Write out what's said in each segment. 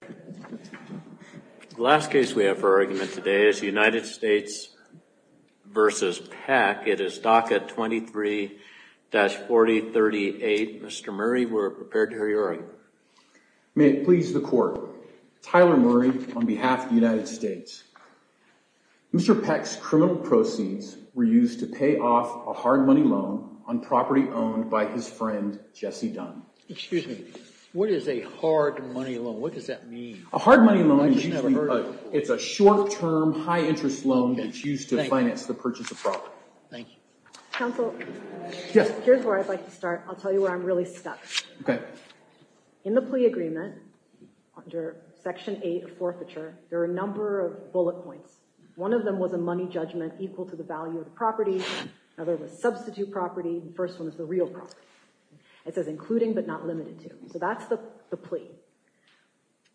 The last case we have for argument today is the United States v. Peck. It is DACA 23-4038. Mr. Murray, we're prepared to hear your argument. May it please the court. Tyler Murray on behalf of the United States. Mr. Peck's criminal proceeds were used to pay off a hard money loan on property owned by his friend Jesse Dunn. Excuse me. What is a hard money loan? What does that mean? A hard money loan is usually a short-term, high-interest loan that's used to finance the purchase of property. Thank you. Counsel, here's where I'd like to start. I'll tell you where I'm really stuck. Okay. In the plea agreement, under section 8 of forfeiture, there are a number of bullet points. One of them was a money judgment equal to the value of the property. Another was substitute property. The first one is the real property. It says including but not limited to. So that's the plea.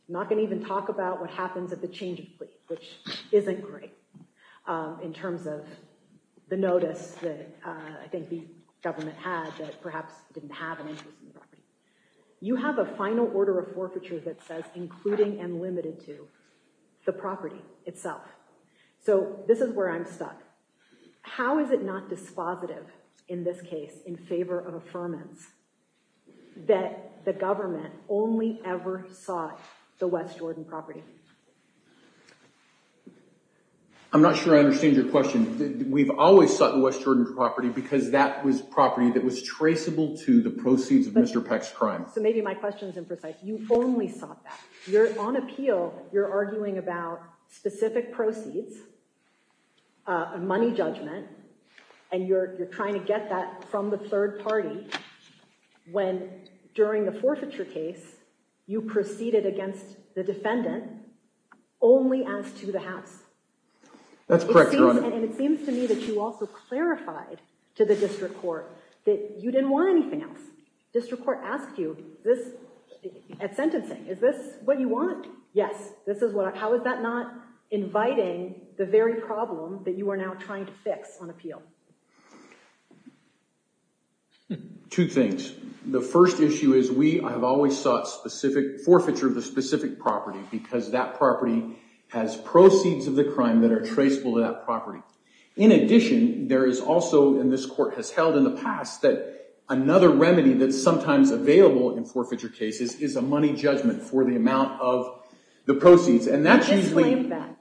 I'm not going to even talk about what happens at the change of plea, which isn't great in terms of the notice that I think the government had that perhaps didn't have an inclusion. You have a final order of forfeiture that says including and limited to the property itself. So this is where I'm stuck. How is it not dispositive in this case in favor of affirmance that the government only ever sought the West Jordan property? I'm not sure I understand your question. We've always sought the West Jordan property because that was property that was traceable to the proceeds of Mr. Peck's crime. So maybe my question is imprecise. You only sought that. You're on appeal. You're arguing about specific proceeds, money judgment, and you're trying to get that from the third party when during the forfeiture case, you proceeded against the defendant only as to the house. That's correct, Your Honor. And it seems to me that you also clarified to the district court that you didn't want anything else. District court asked you this at sentencing. Is this what you want? Yes, this is what. How is that not inviting the very problem that you are now trying to fix on appeal? Two things. The first issue is we have always sought specific forfeiture of the specific property because that property has proceeds of the crime that are traceable to that property. In addition, there is also, and this court has held in the past, that another remedy that's sometimes available in forfeiture cases is a money judgment for the amount of the proceeds. And that's usually—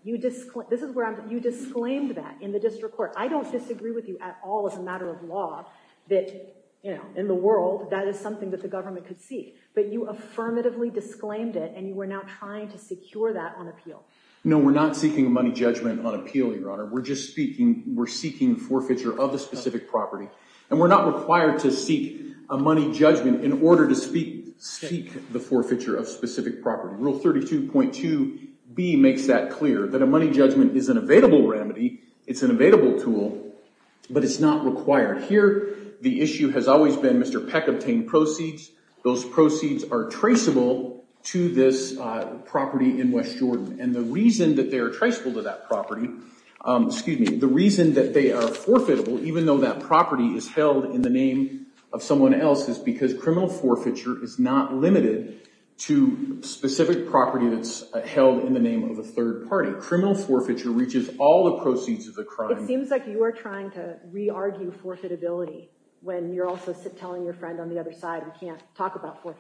You disclaimed that. This is where I'm—you disclaimed that in the district court. I don't disagree with you at all as a matter of law that, you know, in the world, that is something that the government could see. But you affirmatively disclaimed it and you are now trying to secure that on appeal. No, we're not seeking money judgment on appeal, Your Honor. We're just speaking—we're seeking forfeiture of the specific property. And we're not required to seek a money judgment in order to speak the forfeiture of specific property. Rule 32.2B makes that clear, that a money judgment is an available remedy. It's an available tool, but it's not required. Here, the issue has always been Mr. Peck obtained proceeds. Those proceeds are traceable to this property in West Jordan. And the reason that they are traceable to that property—excuse me—the reason that they are forfeitable, even though that property is held in the name of someone else, is because criminal forfeiture is not limited to specific property that's held in the name of a third party. Criminal forfeiture reaches all the proceeds of the crime. It seems like you are trying to re-argue forfeitability when you're also telling your friend on the other side, we can't talk about Well,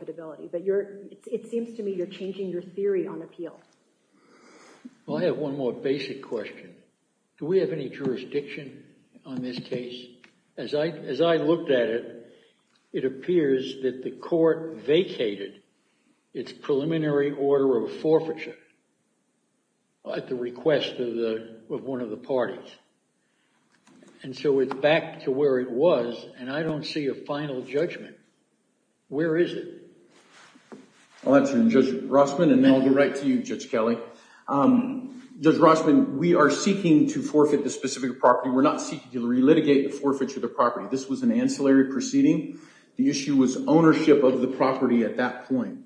I have one more basic question. Do we have any jurisdiction on this case? As I looked at it, it appears that the court vacated its preliminary order of forfeiture at the request of one of the parties. And so it's back to where it was, and I don't see a final judgment. Where is it? I'll answer, Judge Rossman, and then I'll get right to you, Judge Kelly. Judge Rossman, we are seeking to forfeit the specific property. We're not seeking to relitigate the forfeiture of the property. This was an ancillary proceeding. The issue was ownership of the property at that point.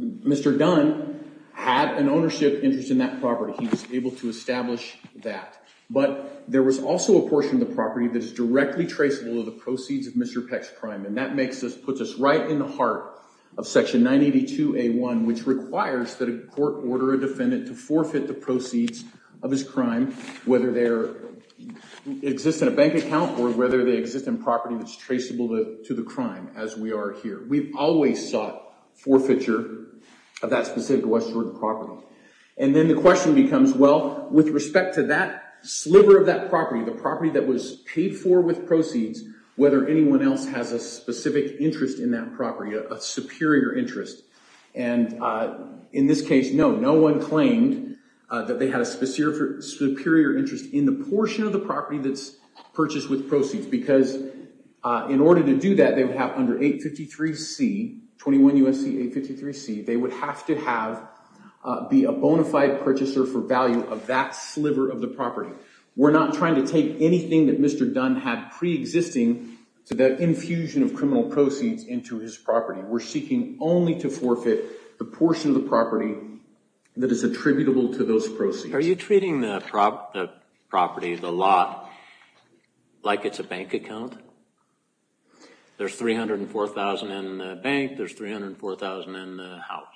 Mr. Dunn had an ownership interest in that property. He was able to establish that. But there was also a portion of the property that is directly traceable to proceeds of Mr. Peck's crime, and that puts us right in the heart of Section 982A1, which requires that a court order a defendant to forfeit the proceeds of his crime, whether they exist in a bank account or whether they exist in property that's traceable to the crime, as we are here. We've always sought forfeiture of that specific West Jordan property. And then the question becomes, well, with respect to that sliver of that property, the property that was paid for with proceeds, whether anyone else has a specific interest in that property, a superior interest. And in this case, no, no one claimed that they had a superior interest in the portion of the property that's purchased with proceeds, because in order to do that, they would have under 853C, 21 U.S.C. 853C, they would have to have, be a bona fide purchaser for value of that sliver of the property. We're not trying to take anything that Mr. Dunn had pre-existing to the infusion of criminal proceeds into his property. We're seeking only to forfeit the portion of the property that is attributable to those proceeds. Are you treating the property, the lot, like it's a bank account? There's $304,000 in the bank, there's $304,000 in the house.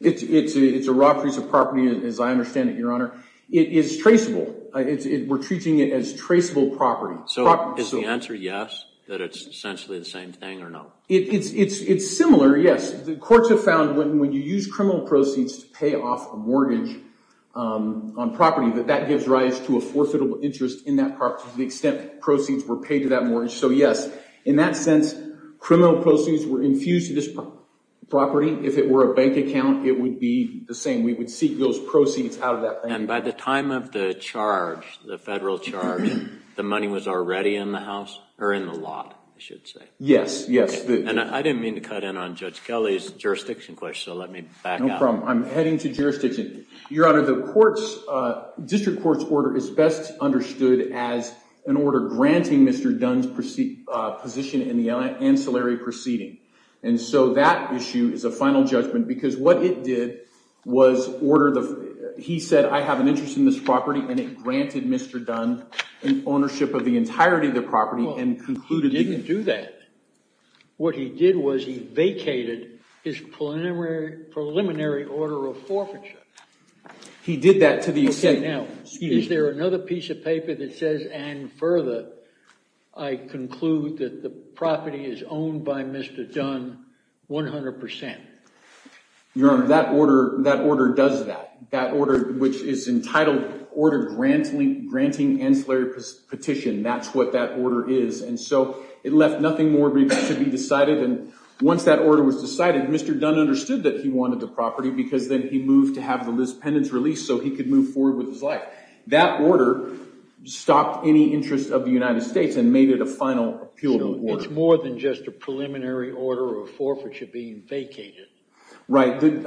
It's a raw piece of property, as I understand it, Your Honor. It is traceable. We're treating it as traceable property. So is the answer yes, that it's essentially the same thing, or no? It's similar, yes. The courts have found when you use criminal proceeds to pay off a mortgage on property, that that gives rise to a forfeitable interest in that property to the extent proceeds were paid to that mortgage. So yes, in that sense, criminal proceeds were infused to this bank account, it would be the same. We would seek those proceeds out of that bank. And by the time of the charge, the federal charge, the money was already in the house, or in the lot, I should say? Yes, yes. And I didn't mean to cut in on Judge Kelly's jurisdiction question, so let me back up. No problem. I'm heading to jurisdiction. Your Honor, the district court's order is best understood as an order granting Mr. Dunn's position in the ancillary proceeding. And so that issue is a final judgment, because what it did was order the... He said, I have an interest in this property, and it granted Mr. Dunn an ownership of the entirety of the property and concluded... He didn't do that. What he did was he vacated his preliminary order of forfeiture. He did that to the extent... Okay, now, is there another piece of paper that says, and further, I conclude that the property is owned by Mr. Dunn 100%? Your Honor, that order does that. That order, which is entitled order granting ancillary petition, that's what that order is. And so it left nothing more to be decided. And once that order was decided, Mr. Dunn understood that he wanted the property, because then he moved to have the pendants released so he could move forward with his life. That order stopped any interest of the United States and made it a final appeal to order. So it's more than just a preliminary order of forfeiture being vacated. Right. What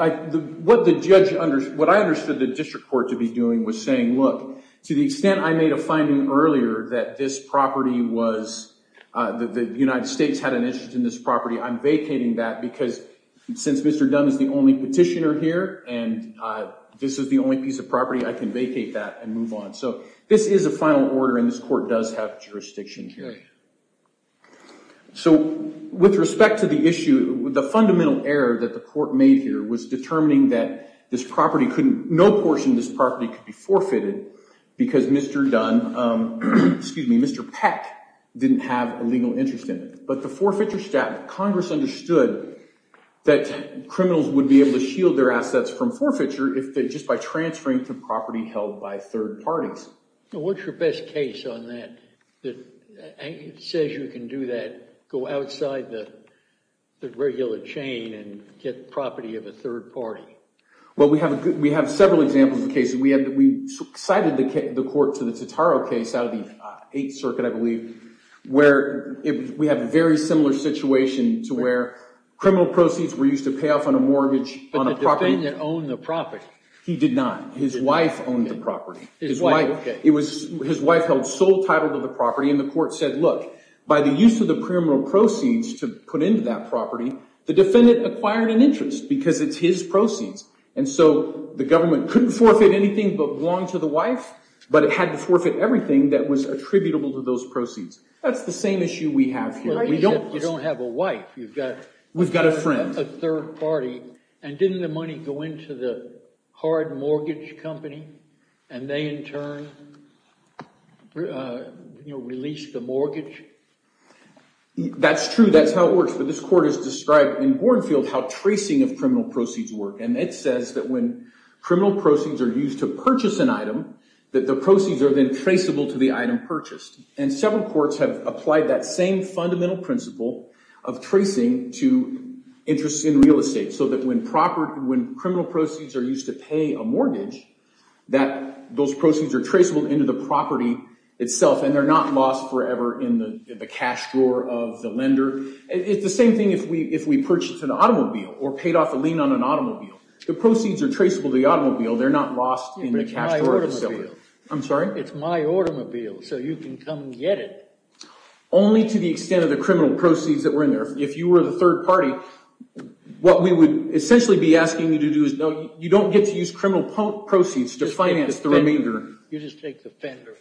I understood the district court to be doing was saying, look, to the extent I made a finding earlier that this property was... That the United States had an interest in this property, I'm vacating that because since Mr. Dunn is the only petitioner here and this is the only piece of property, I can vacate that and move on. So this is a final order and this court does have jurisdiction here. So with respect to the issue, the fundamental error that the court made here was determining that this property couldn't... No portion of this property could be forfeited because Mr. Dunn, excuse me, Mr. Peck didn't have a legal interest in it. But the forfeiture statute, Congress understood that criminals would be able to shield their assets from forfeiture if they, by transferring to property held by third parties. Now, what's your best case on that? It says you can do that, go outside the regular chain and get property of a third party. Well, we have several examples of cases. We cited the court to the Totaro case out of the Eighth Circuit, I believe, where we have a very similar situation to where criminal proceeds were used to pay off on a mortgage on a property. He didn't own the property. He did not. His wife owned the property. His wife held sole title to the property and the court said, look, by the use of the criminal proceeds to put into that property, the defendant acquired an interest because it's his proceeds. And so the government couldn't forfeit anything but belong to the wife, but it had to forfeit everything that was attributable to those proceeds. That's the same issue we have here. You don't have a wife, you've got... We've got a friend. A third party. And didn't the money go into the hard mortgage company and they, in turn, released the mortgage? That's true. That's how it works. But this court has described in Gornfield how tracing of criminal proceeds work. And it says that when criminal proceeds are used to purchase an item, that the proceeds are then traceable to the item purchased. And several courts have applied that same fundamental principle of tracing to interests in real estate so that when criminal proceeds are used to pay a mortgage, that those proceeds are traceable into the property itself and they're not lost forever in the cash drawer of the lender. It's the same thing if we purchased an automobile or paid off a lien on an automobile. The proceeds are traceable to the automobile. They're not lost in the cash drawer facility. I'm sorry? It's my automobile, so you can come and get it. Only to the extent of the criminal proceeds that were in there. If you were the third party, what we would essentially be asking you to do is, no, you don't get to use criminal proceeds to finance the remainder. You just take the fender.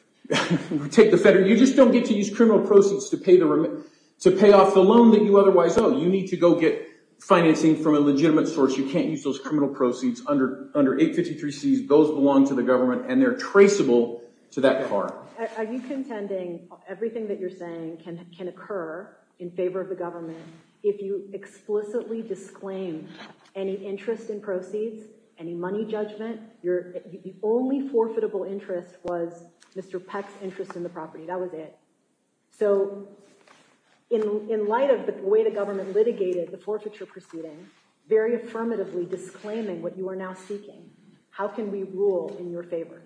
Take the fender. You just don't get to use criminal proceeds to pay off the loan that you otherwise owe. You need to go get financing from a legitimate source. You can't use those criminal proceeds. Under 853Cs, those belong to the government and they're traceable to that car. Are you contending everything that you're saying can occur in favor of the government if you explicitly disclaim any interest in proceeds, any money judgment? The only forfeitable interest was Mr. Peck's interest in the property. That was it. So in light of the way the government litigated the forfeiture proceeding, very affirmatively disclaiming what you are now seeking, how can we rule in your favor?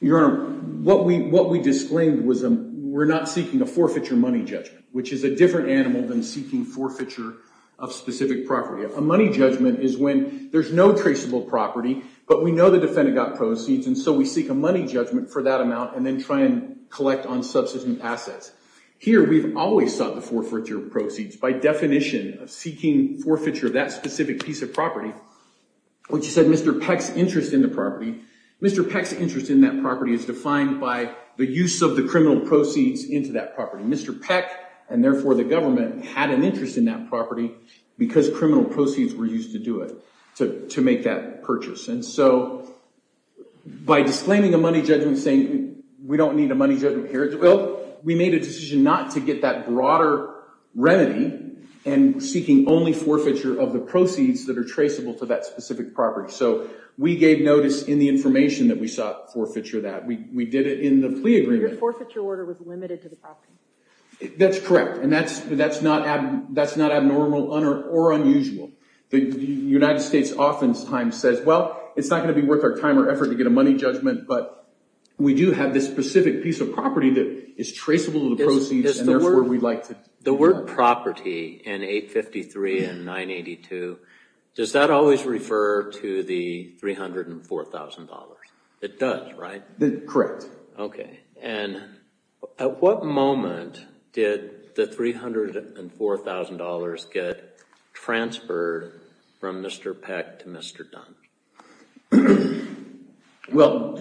Your Honor, what we disclaimed was we're not seeking a forfeiture money judgment, which is a different animal than seeking forfeiture of specific property. A money judgment is when there's no traceable property, but we know the defendant got proceeds, and so we seek a money judgment for that amount and then try and collect on subsistence assets. Here, we've always sought the forfeiture proceeds. By definition of seeking forfeiture of that specific piece of property, which you said Mr. Peck's interest in the property, Mr. Peck's interest in that property is defined by the use of the criminal proceeds into that property. Mr. Peck, and therefore the government, had an interest in that property because criminal proceeds were used to do it, to make that purchase. And so by disclaiming a money judgment, saying we don't need a money judgment here, we made a decision not to get that broader remedy and seeking only forfeiture of the proceeds that are traceable to that specific property. So we gave notice in the information that we sought forfeiture of that. We did it in the plea agreement. Your forfeiture order was limited to the property. That's correct, and that's not abnormal or unusual. The United States often times says, well, it's not going to be worth our time or effort to get a money judgment, but we do have this specific piece of property that is traceable to the proceeds, and therefore we'd like to do that. The word property in 853 and 982, does that always refer to the $304,000? It does, right? Correct. Okay, and at what moment did the $304,000 get transferred from Mr. Peck to Mr. Dunn? Well,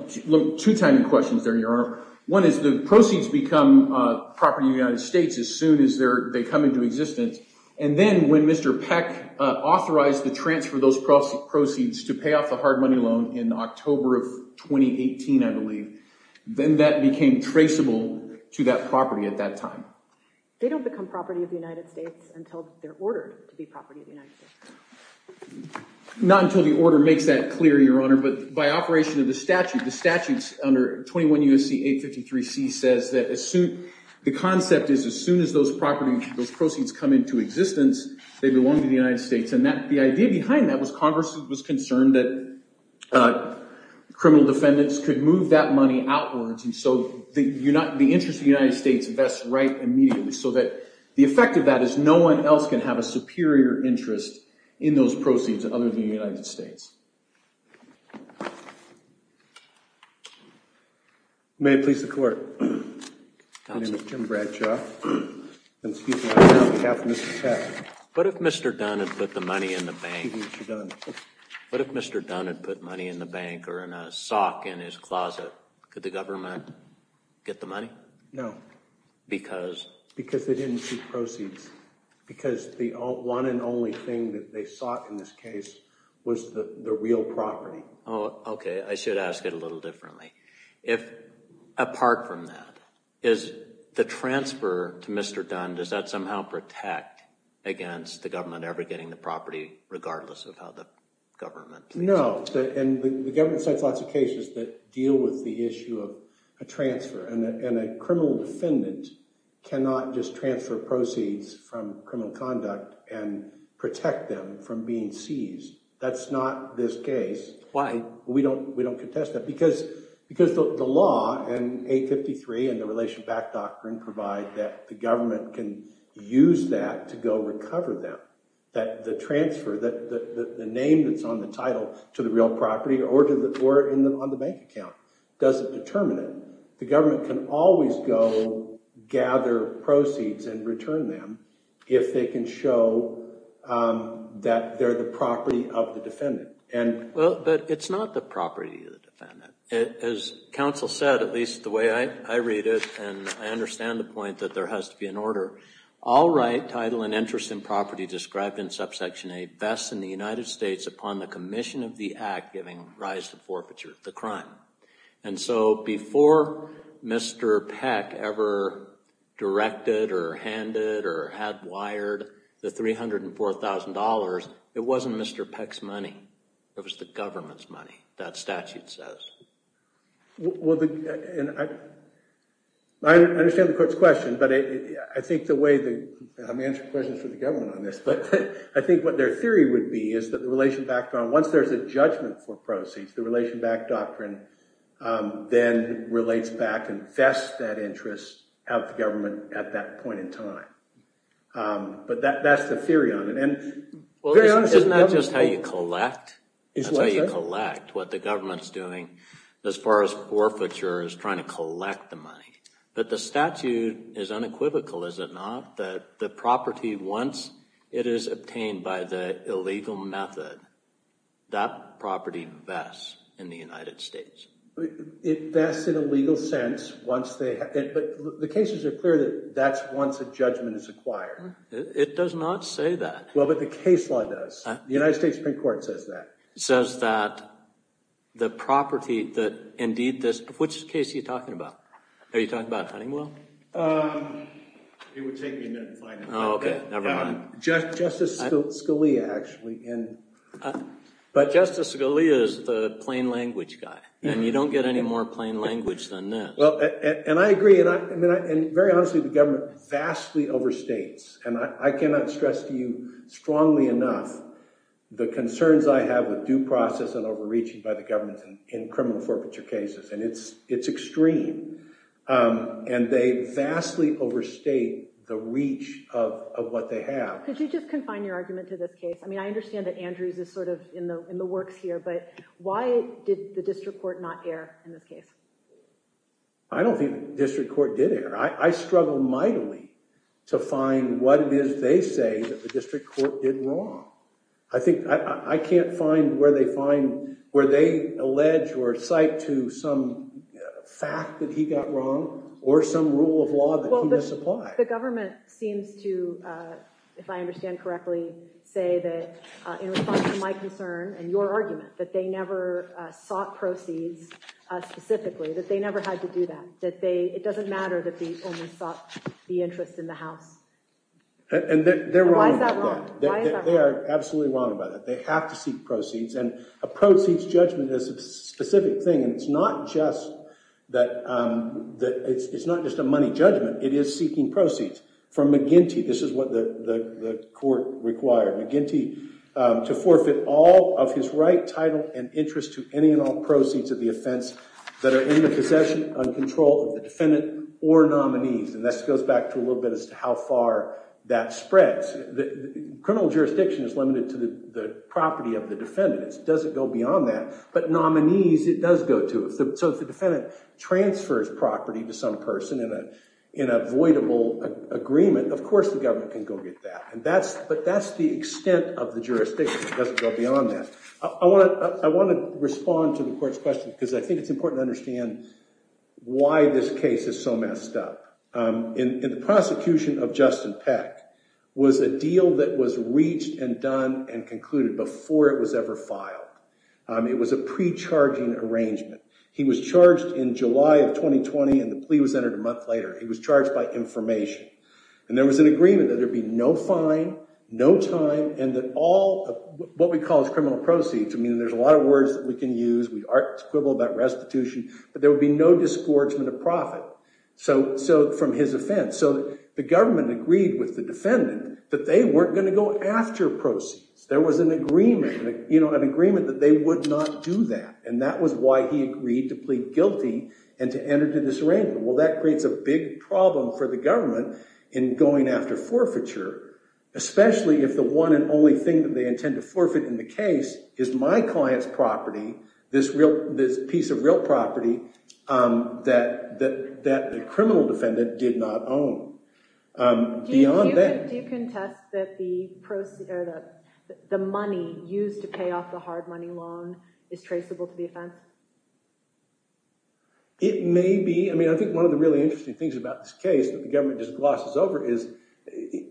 two tiny questions there, Your Honor. One is the proceeds become property of the United States as soon as they come into existence, and then when Mr. Peck authorized the transfer of those proceeds to pay off the hard money loan in October of 2018, I believe, then that became traceable to that property at that time. They don't become property of the United States until they're ordered to be property of the United States. Not until the order makes that clear, Your Honor, but by operation of the statute, the statutes under 21 U.S.C. 853 C says that the concept is as soon as those proceeds come into existence, they belong to the United States. And the idea behind that was Congress was concerned that criminal defendants could move that money outwards, and so the interest of the United States vests right immediately. So that the effect of that is no one else can have a superior interest in those proceeds other than the United States. May it please the Court. My name is Jim Bradshaw. I'm speaking on behalf of Mr. Peck. What if Mr. Dunn had put the money in the bank? What if Mr. Dunn had put money in the bank or in a sock in his closet? Could the government get the money? No. Because? Because they didn't keep proceeds. Because the one and only thing that they sought in this case was the real property. Oh, OK. I should ask it a little differently. Apart from that, is the transfer to Mr. Dunn, does that somehow protect against the government ever getting the property regardless of how the government thinks? No. And the government sets lots of cases that deal with the issue of a transfer. And a criminal defendant cannot just transfer proceeds from criminal conduct and protect them from being seized. That's not this case. Why? We don't contest that. Because the law in 853 and the Relation Back Doctrine provide that the government can use that to go recover them. That the transfer, the name that's on the title to the real property or on the bank account doesn't determine it. The government can always go gather proceeds and return them if they can show that they're the property of the defendant. And- Well, but it's not the property of the defendant. As counsel said, at least the way I read it, and I understand the point that there has to be an order, all right title and interest in property described in subsection A vests in the United States upon the commission of the act giving rise to forfeiture, the crime. And so before Mr. Peck ever directed or handed or had wired the $304,000, it wasn't Mr. Peck's money. It was the government's money, that statute says. Well, I understand the court's question, but I think the way the- I'm answering questions for the government on this, but I think what their theory would be is that the Relation Back Doctrine, once there's a judgment for proceeds, the Relation Back Doctrine then relates back and vests that interest of the government at that point in time. But that's the theory on it. And very honestly- Isn't that just how you collect? That's how you collect, what the government's doing as far as forfeiture is trying to collect the money. But the statute is unequivocal, is it not, that the property, once it is obtained by the illegal method, that property vests in the United States. It vests in a legal sense once they- but the cases are clear that that's once a judgment is acquired. It does not say that. Well, but the case law does. The United States Supreme Court says that. It says that the property that indeed this- which case are you talking about? Are you talking about Huntingwell? It would take me a minute to find it. Oh, okay, never mind. Justice Scalia, actually. But Justice Scalia is the plain language guy. And you don't get any more plain language than that. Well, and I agree. And I mean, very honestly, the government vastly overstates. And I cannot stress to you strongly enough the concerns I have with due process and overreaching by the government in criminal forfeiture cases. And it's extreme. And they vastly overstate the reach of what they have. Could you just confine your argument to this case? I mean, I understand that Andrews is sort of in the works here. But why did the district court not err in this case? I don't think the district court did err. I struggle mightily to find what it is they say that the district court did wrong. I think I can't find where they find where they allege or cite to some fact that he got wrong or some rule of law that he misapplied. The government seems to, if I understand correctly, say that in response to my concern and your argument that they never sought proceeds specifically, that they never had to do that. That it doesn't matter that they only sought the interest in the House. And they're wrong. Why is that wrong? They are absolutely wrong about it. They have to seek proceeds. And a proceeds judgment is a specific thing. And it's not just that it's not just a money judgment. It is seeking proceeds from McGinty. This is what the court required. McGinty to forfeit all of his right, title, and interest to any and all proceeds of the offense that are in the possession and control of the defendant or nominees. And this goes back to a little bit as to how far that spreads. Criminal jurisdiction is limited to the property of the defendant. It doesn't go beyond that. But nominees, it does go to. So if the defendant transfers property to some person in a voidable agreement, of course the government can go get that. But that's the extent of the jurisdiction. It doesn't go beyond that. I want to respond to the court's question because I think it's important to understand why this case is so messed up. In the prosecution of Justin Peck was a deal that was reached and done and concluded before it was ever filed. It was a pre-charging arrangement. He was charged in July of 2020. And the plea was entered a month later. He was charged by information. And there was an agreement that there'd be no fine, no time. And that all of what we call is criminal proceeds. I mean, there's a lot of words that we can use. We aren't quibble about restitution. But there would be no disgorgement of profit. So from his offense. So the government agreed with the defendant that they weren't going to go after proceeds. There was an agreement that they would not do that. And that was why he agreed to plead guilty and to enter into this arrangement. Well, that creates a big problem for the government in going after forfeiture. Especially if the one and only thing that they intend to forfeit in the case is my client's property, this piece of real property that the criminal defendant did not own. Do you contest that the money used to pay off the hard money loan is traceable to the offense? It may be. I mean, I think one of the really interesting things about this case that the government just glosses over is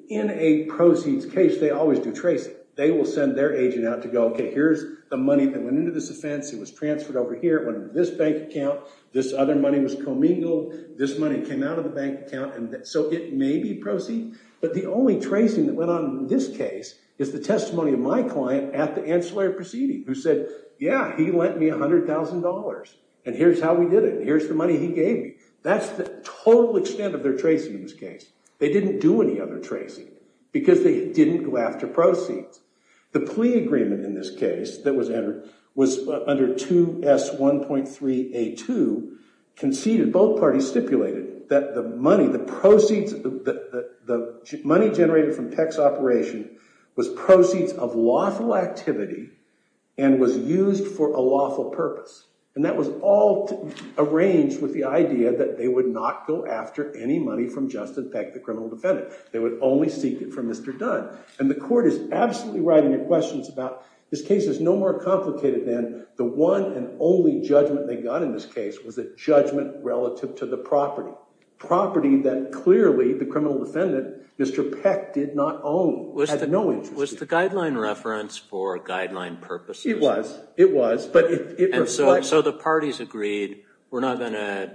in a proceeds case, they always do trace. They will send their agent out to go, okay, here's the money that went into this offense. It was transferred over here. It went into this bank account. This other money was commingled. This money came out of the bank account. And so it may be proceeds. But the only tracing that went on in this case is the testimony of my client at the ancillary proceeding who said, yeah, he lent me $100,000. And here's how we did it. Here's the money he gave me. That's the total extent of their tracing in this case. They didn't do any other tracing because they didn't go after proceeds. The plea agreement in this case that was entered was under 2S1.3A2, conceded. Both parties stipulated that the money, the proceeds, the money generated from Peck's operation was proceeds of lawful activity and was used for a lawful purpose. And that was all arranged with the idea that they would not go after any money from Justin Peck, the criminal defendant. They would only seek it from Mr. Dunn. And the court is absolutely right in their questions about this case is no more complicated than the one and only judgment they got in this case was a judgment relative to the property, property that clearly the criminal defendant, Mr. Peck, did not own. He had no interest in it. Was the guideline reference for guideline purposes? It was. It was. And so the parties agreed, we're not going to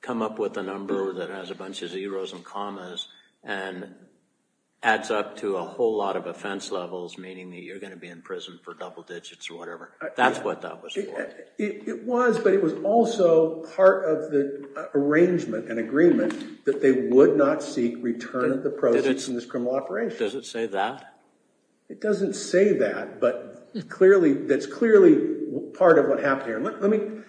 come up with a number that has a bunch of zeros and commas and adds up to a whole lot of offense levels, meaning that you're going to be in prison for double digits or whatever. That's what that was for. It was, but it was also part of the arrangement and agreement that they would not seek return of the proceeds in this criminal operation. Does it say that? It doesn't say that, but clearly, that's clearly part of what happened here. Let me,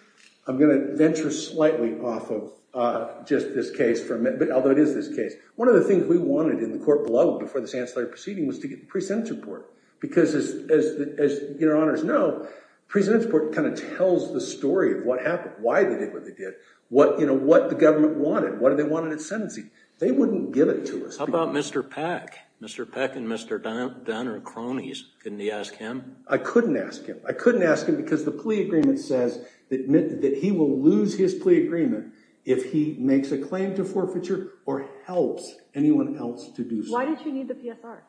I'm going to venture slightly off of just this case for a minute. Although it is this case. One of the things we wanted in the court below, before this ancillary proceeding, was to get the pre-sentence report. Because as your honors know, pre-sentence report kind of tells the story of what happened, why they did what they did, what the government wanted, what did they want in its sentencing. They wouldn't give it to us. How about Mr. Peck? Mr. Peck and Mr. Dunn are cronies. Couldn't you ask him? I couldn't ask him. I couldn't ask him because the plea agreement says that he will lose his plea agreement if he makes a claim to forfeiture or helps anyone else to do so. Why did you need the PSR?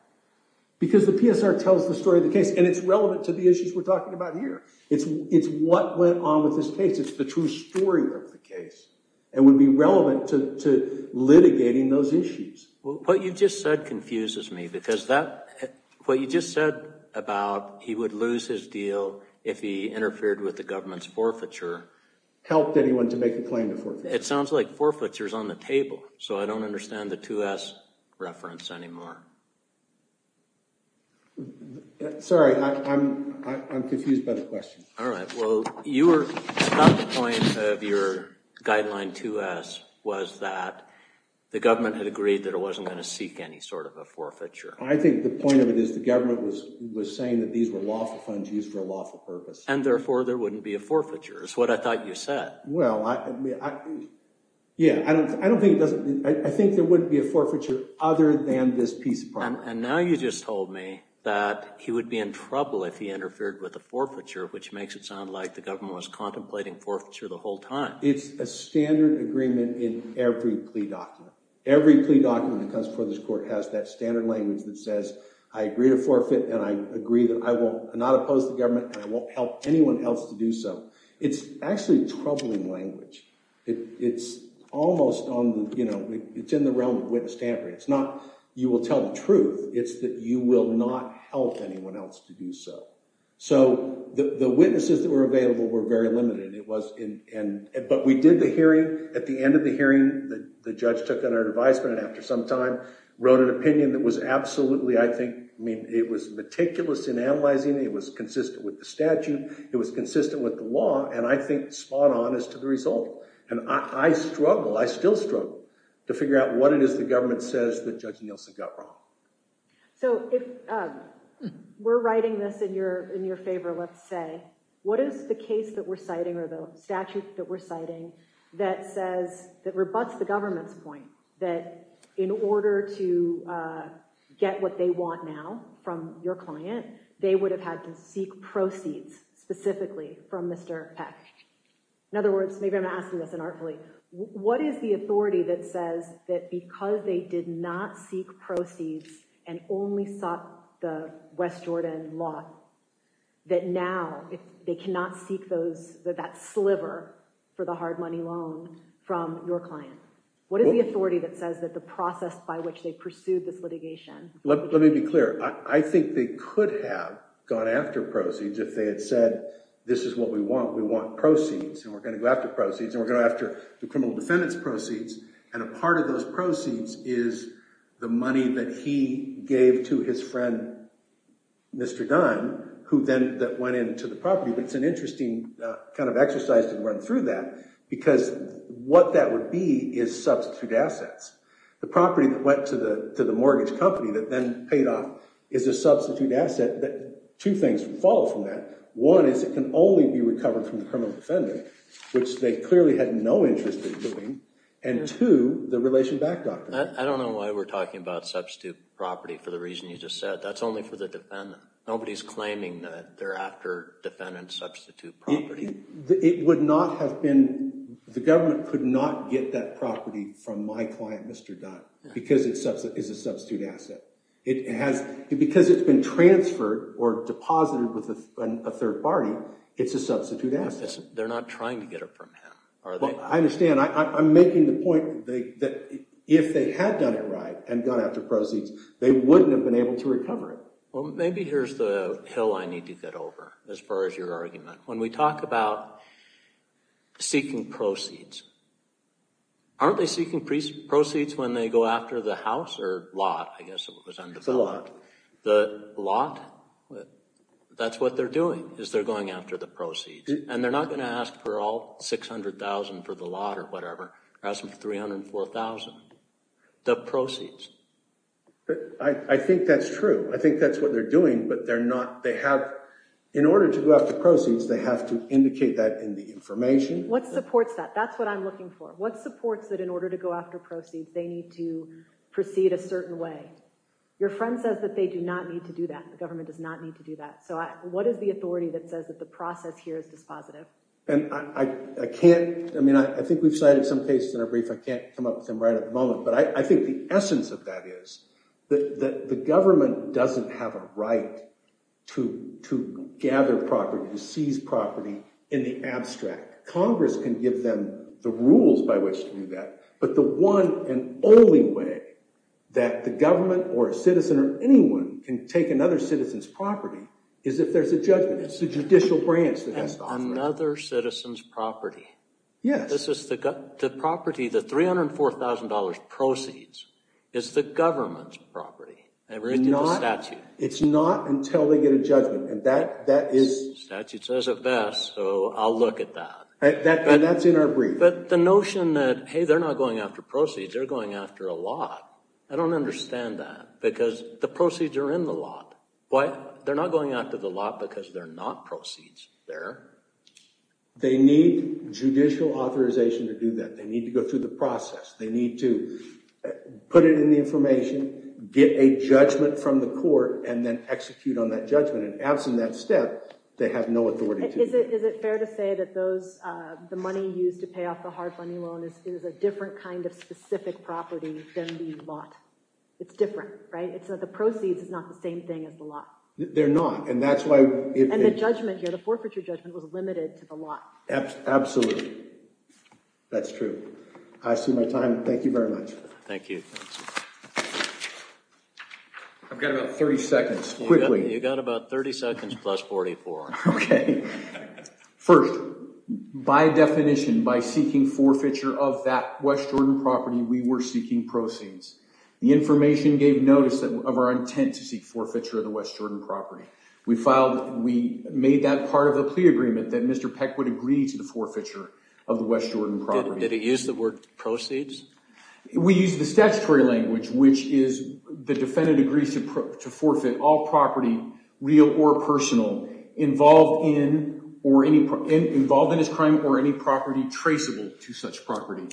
Because the PSR tells the story of the case and it's relevant to the issues we're talking about here. It's what went on with this case. It's the true story of the case and would be relevant to litigating those issues. What you just said confuses me because that, what you just said about he would lose his deal if he interfered with the government's forfeiture. Helped anyone to make a claim to forfeiture. It sounds like forfeiture is on the table. So I don't understand the 2S reference anymore. Sorry, I'm confused by the question. All right. Well, you were at the point of your guideline 2S was that the government had agreed that it wasn't going to seek any sort of a forfeiture. I think the point of it is the government was saying that these were lawful funds used for a lawful purpose. And therefore, there wouldn't be a forfeiture. It's what I thought you said. Well, yeah, I don't think it doesn't. I think there wouldn't be a forfeiture other than this piece of property. And now you just told me that he would be in trouble if he interfered with the forfeiture, which makes it sound like the government was contemplating forfeiture the whole time. It's a standard agreement in every plea document. Every plea document that comes before this court has that standard language that says, I agree to forfeit and I agree that I will not oppose the government and I won't help anyone else to do so. It's actually troubling language. It's almost in the realm of witness tampering. It's not you will tell the truth. It's that you will not help anyone else to do so. So the witnesses that were available were very limited. But we did the hearing. At the end of the hearing, the judge took on our advisement after some time, wrote an opinion that was absolutely, I think, I mean, it was meticulous in analyzing. It was consistent with the statute. It was consistent with the law. And I think spot on as to the result. And I struggle, I still struggle to figure out what it is the government says that Judge Nielsen got wrong. So if we're writing this in your favor, let's say, what is the case that we're citing or the statute that we're citing that says, that rebuts the government's point that in order to get what they want now from your client, they would have had to seek proceeds specifically from Mr. Peck. In other words, maybe I'm asking this inartfully, what is the authority that says that because they did not seek proceeds and only sought the West Jordan law, that now they cannot seek those that sliver for the hard money loan from your client? What is the authority that says that the process by which they pursued this litigation? Let me be clear. I think they could have gone after proceeds if they had said, this is what we want. We want proceeds. And we're going to go after proceeds. And we're going after the criminal defendant's proceeds. And a part of those proceeds is the money that he gave to his friend, Mr. Dunn, who then went into the property. It's an interesting kind of exercise to run through that. Because what that would be is substitute assets. The property that went to the mortgage company that then paid off is a substitute asset that two things would follow from that. One is it can only be recovered from the criminal defendant, which they clearly had no interest in doing. And two, the relation back doctrine. I don't know why we're talking about substitute property for the reason you just said. That's only for the defendant. Nobody's claiming that they're after defendant's substitute property. It would not have been, the government could not get that property from my client, Mr. Dunn, because it's a substitute asset. It has, because it's been transferred or deposited with a third party, it's a substitute asset. They're not trying to get it from him, are they? I understand. I'm making the point that if they had done it right and gone after proceeds, they wouldn't have been able to recover it. Well, maybe here's the hill I need to get over, as far as your argument. When we talk about seeking proceeds, aren't they seeking proceeds when they go after the house or lot? I guess it was undeveloped. The lot. The lot? That's what they're doing, is they're going after the proceeds. And they're not going to ask for all $600,000 for the lot or whatever. Ask them for $304,000, the proceeds. I think that's true. I think that's what they're doing, but they're not, they have, in order to go after proceeds, they have to indicate that in the information. What supports that? That's what I'm looking for. What supports that in order to go after proceeds, they need to proceed a certain way? Your friend says that they do not need to do that. The government does not need to do that. So what is the authority that says that the process here is dispositive? And I can't, I mean, I think we've cited some cases in our brief. I can't come up with them right at the moment. But I think the essence of that is that the government doesn't have a right to gather property, to seize property in the abstract. Congress can give them the rules by which to do that. But the one and only way that the government or a citizen or anyone can take another citizen's property is if there's a judgment. It's the judicial branch that has to offer it. Another citizen's property? Yes. The property, the $304,000 proceeds is the government's property. It's not until they get a judgment. Statute says it best, so I'll look at that. And that's in our brief. But the notion that, hey, they're not going after proceeds, they're going after a lot. I don't understand that because the proceeds are in the lot. Why? They're not going after the lot because they're not proceeds there. They need judicial authorization to do that. They need to go through the process. They need to put it in the information, get a judgment from the court, and then execute on that judgment. And absent that step, they have no authority to do that. Is it fair to say that the money used to pay off the hard money loan is a different kind of specific property than the lot? It's different, right? It's that the proceeds is not the same thing as the lot. They're not. And that's why if they- The forfeiture judgment was limited to the lot. Absolutely. That's true. I see my time. Thank you very much. Thank you. I've got about 30 seconds. Quickly. You got about 30 seconds plus 44. Okay. First, by definition, by seeking forfeiture of that West Jordan property, we were seeking proceeds. The information gave notice of our intent to seek forfeiture of the West Jordan property. We made that part of the plea agreement that Mr. Peck would agree to the forfeiture of the West Jordan property. Did he use the word proceeds? We used the statutory language, which is the defendant agrees to forfeit all property, real or personal, involved in his crime or any property traceable to such property.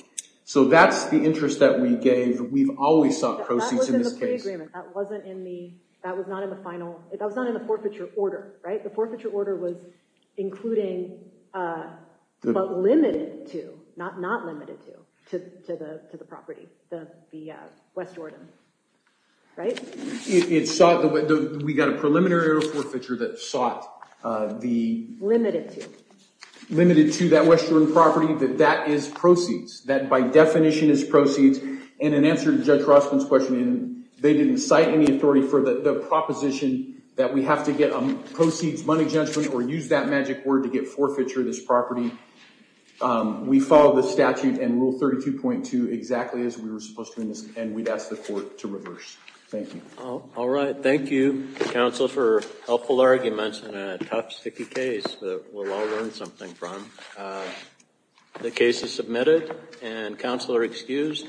So that's the interest that we gave. We've always sought proceeds in this case. That wasn't in the forfeiture order, right? The forfeiture order was including but limited to, not limited to, to the property, the West Jordan, right? We got a preliminary order of forfeiture that sought the- Limited to. Limited to that West Jordan property, that that is proceeds. That by definition is proceeds. And in answer to Judge Rossman's question, they didn't cite any authority for the proposition that we have to get a proceeds money judgment or use that magic word to get forfeiture of this property. We follow the statute and Rule 32.2 exactly as we were supposed to in this, and we'd ask the court to reverse. Thank you. All right. Thank you, counsel, for helpful arguments in a tough, sticky case that we'll all learn something from. The case is submitted and counsel are excused.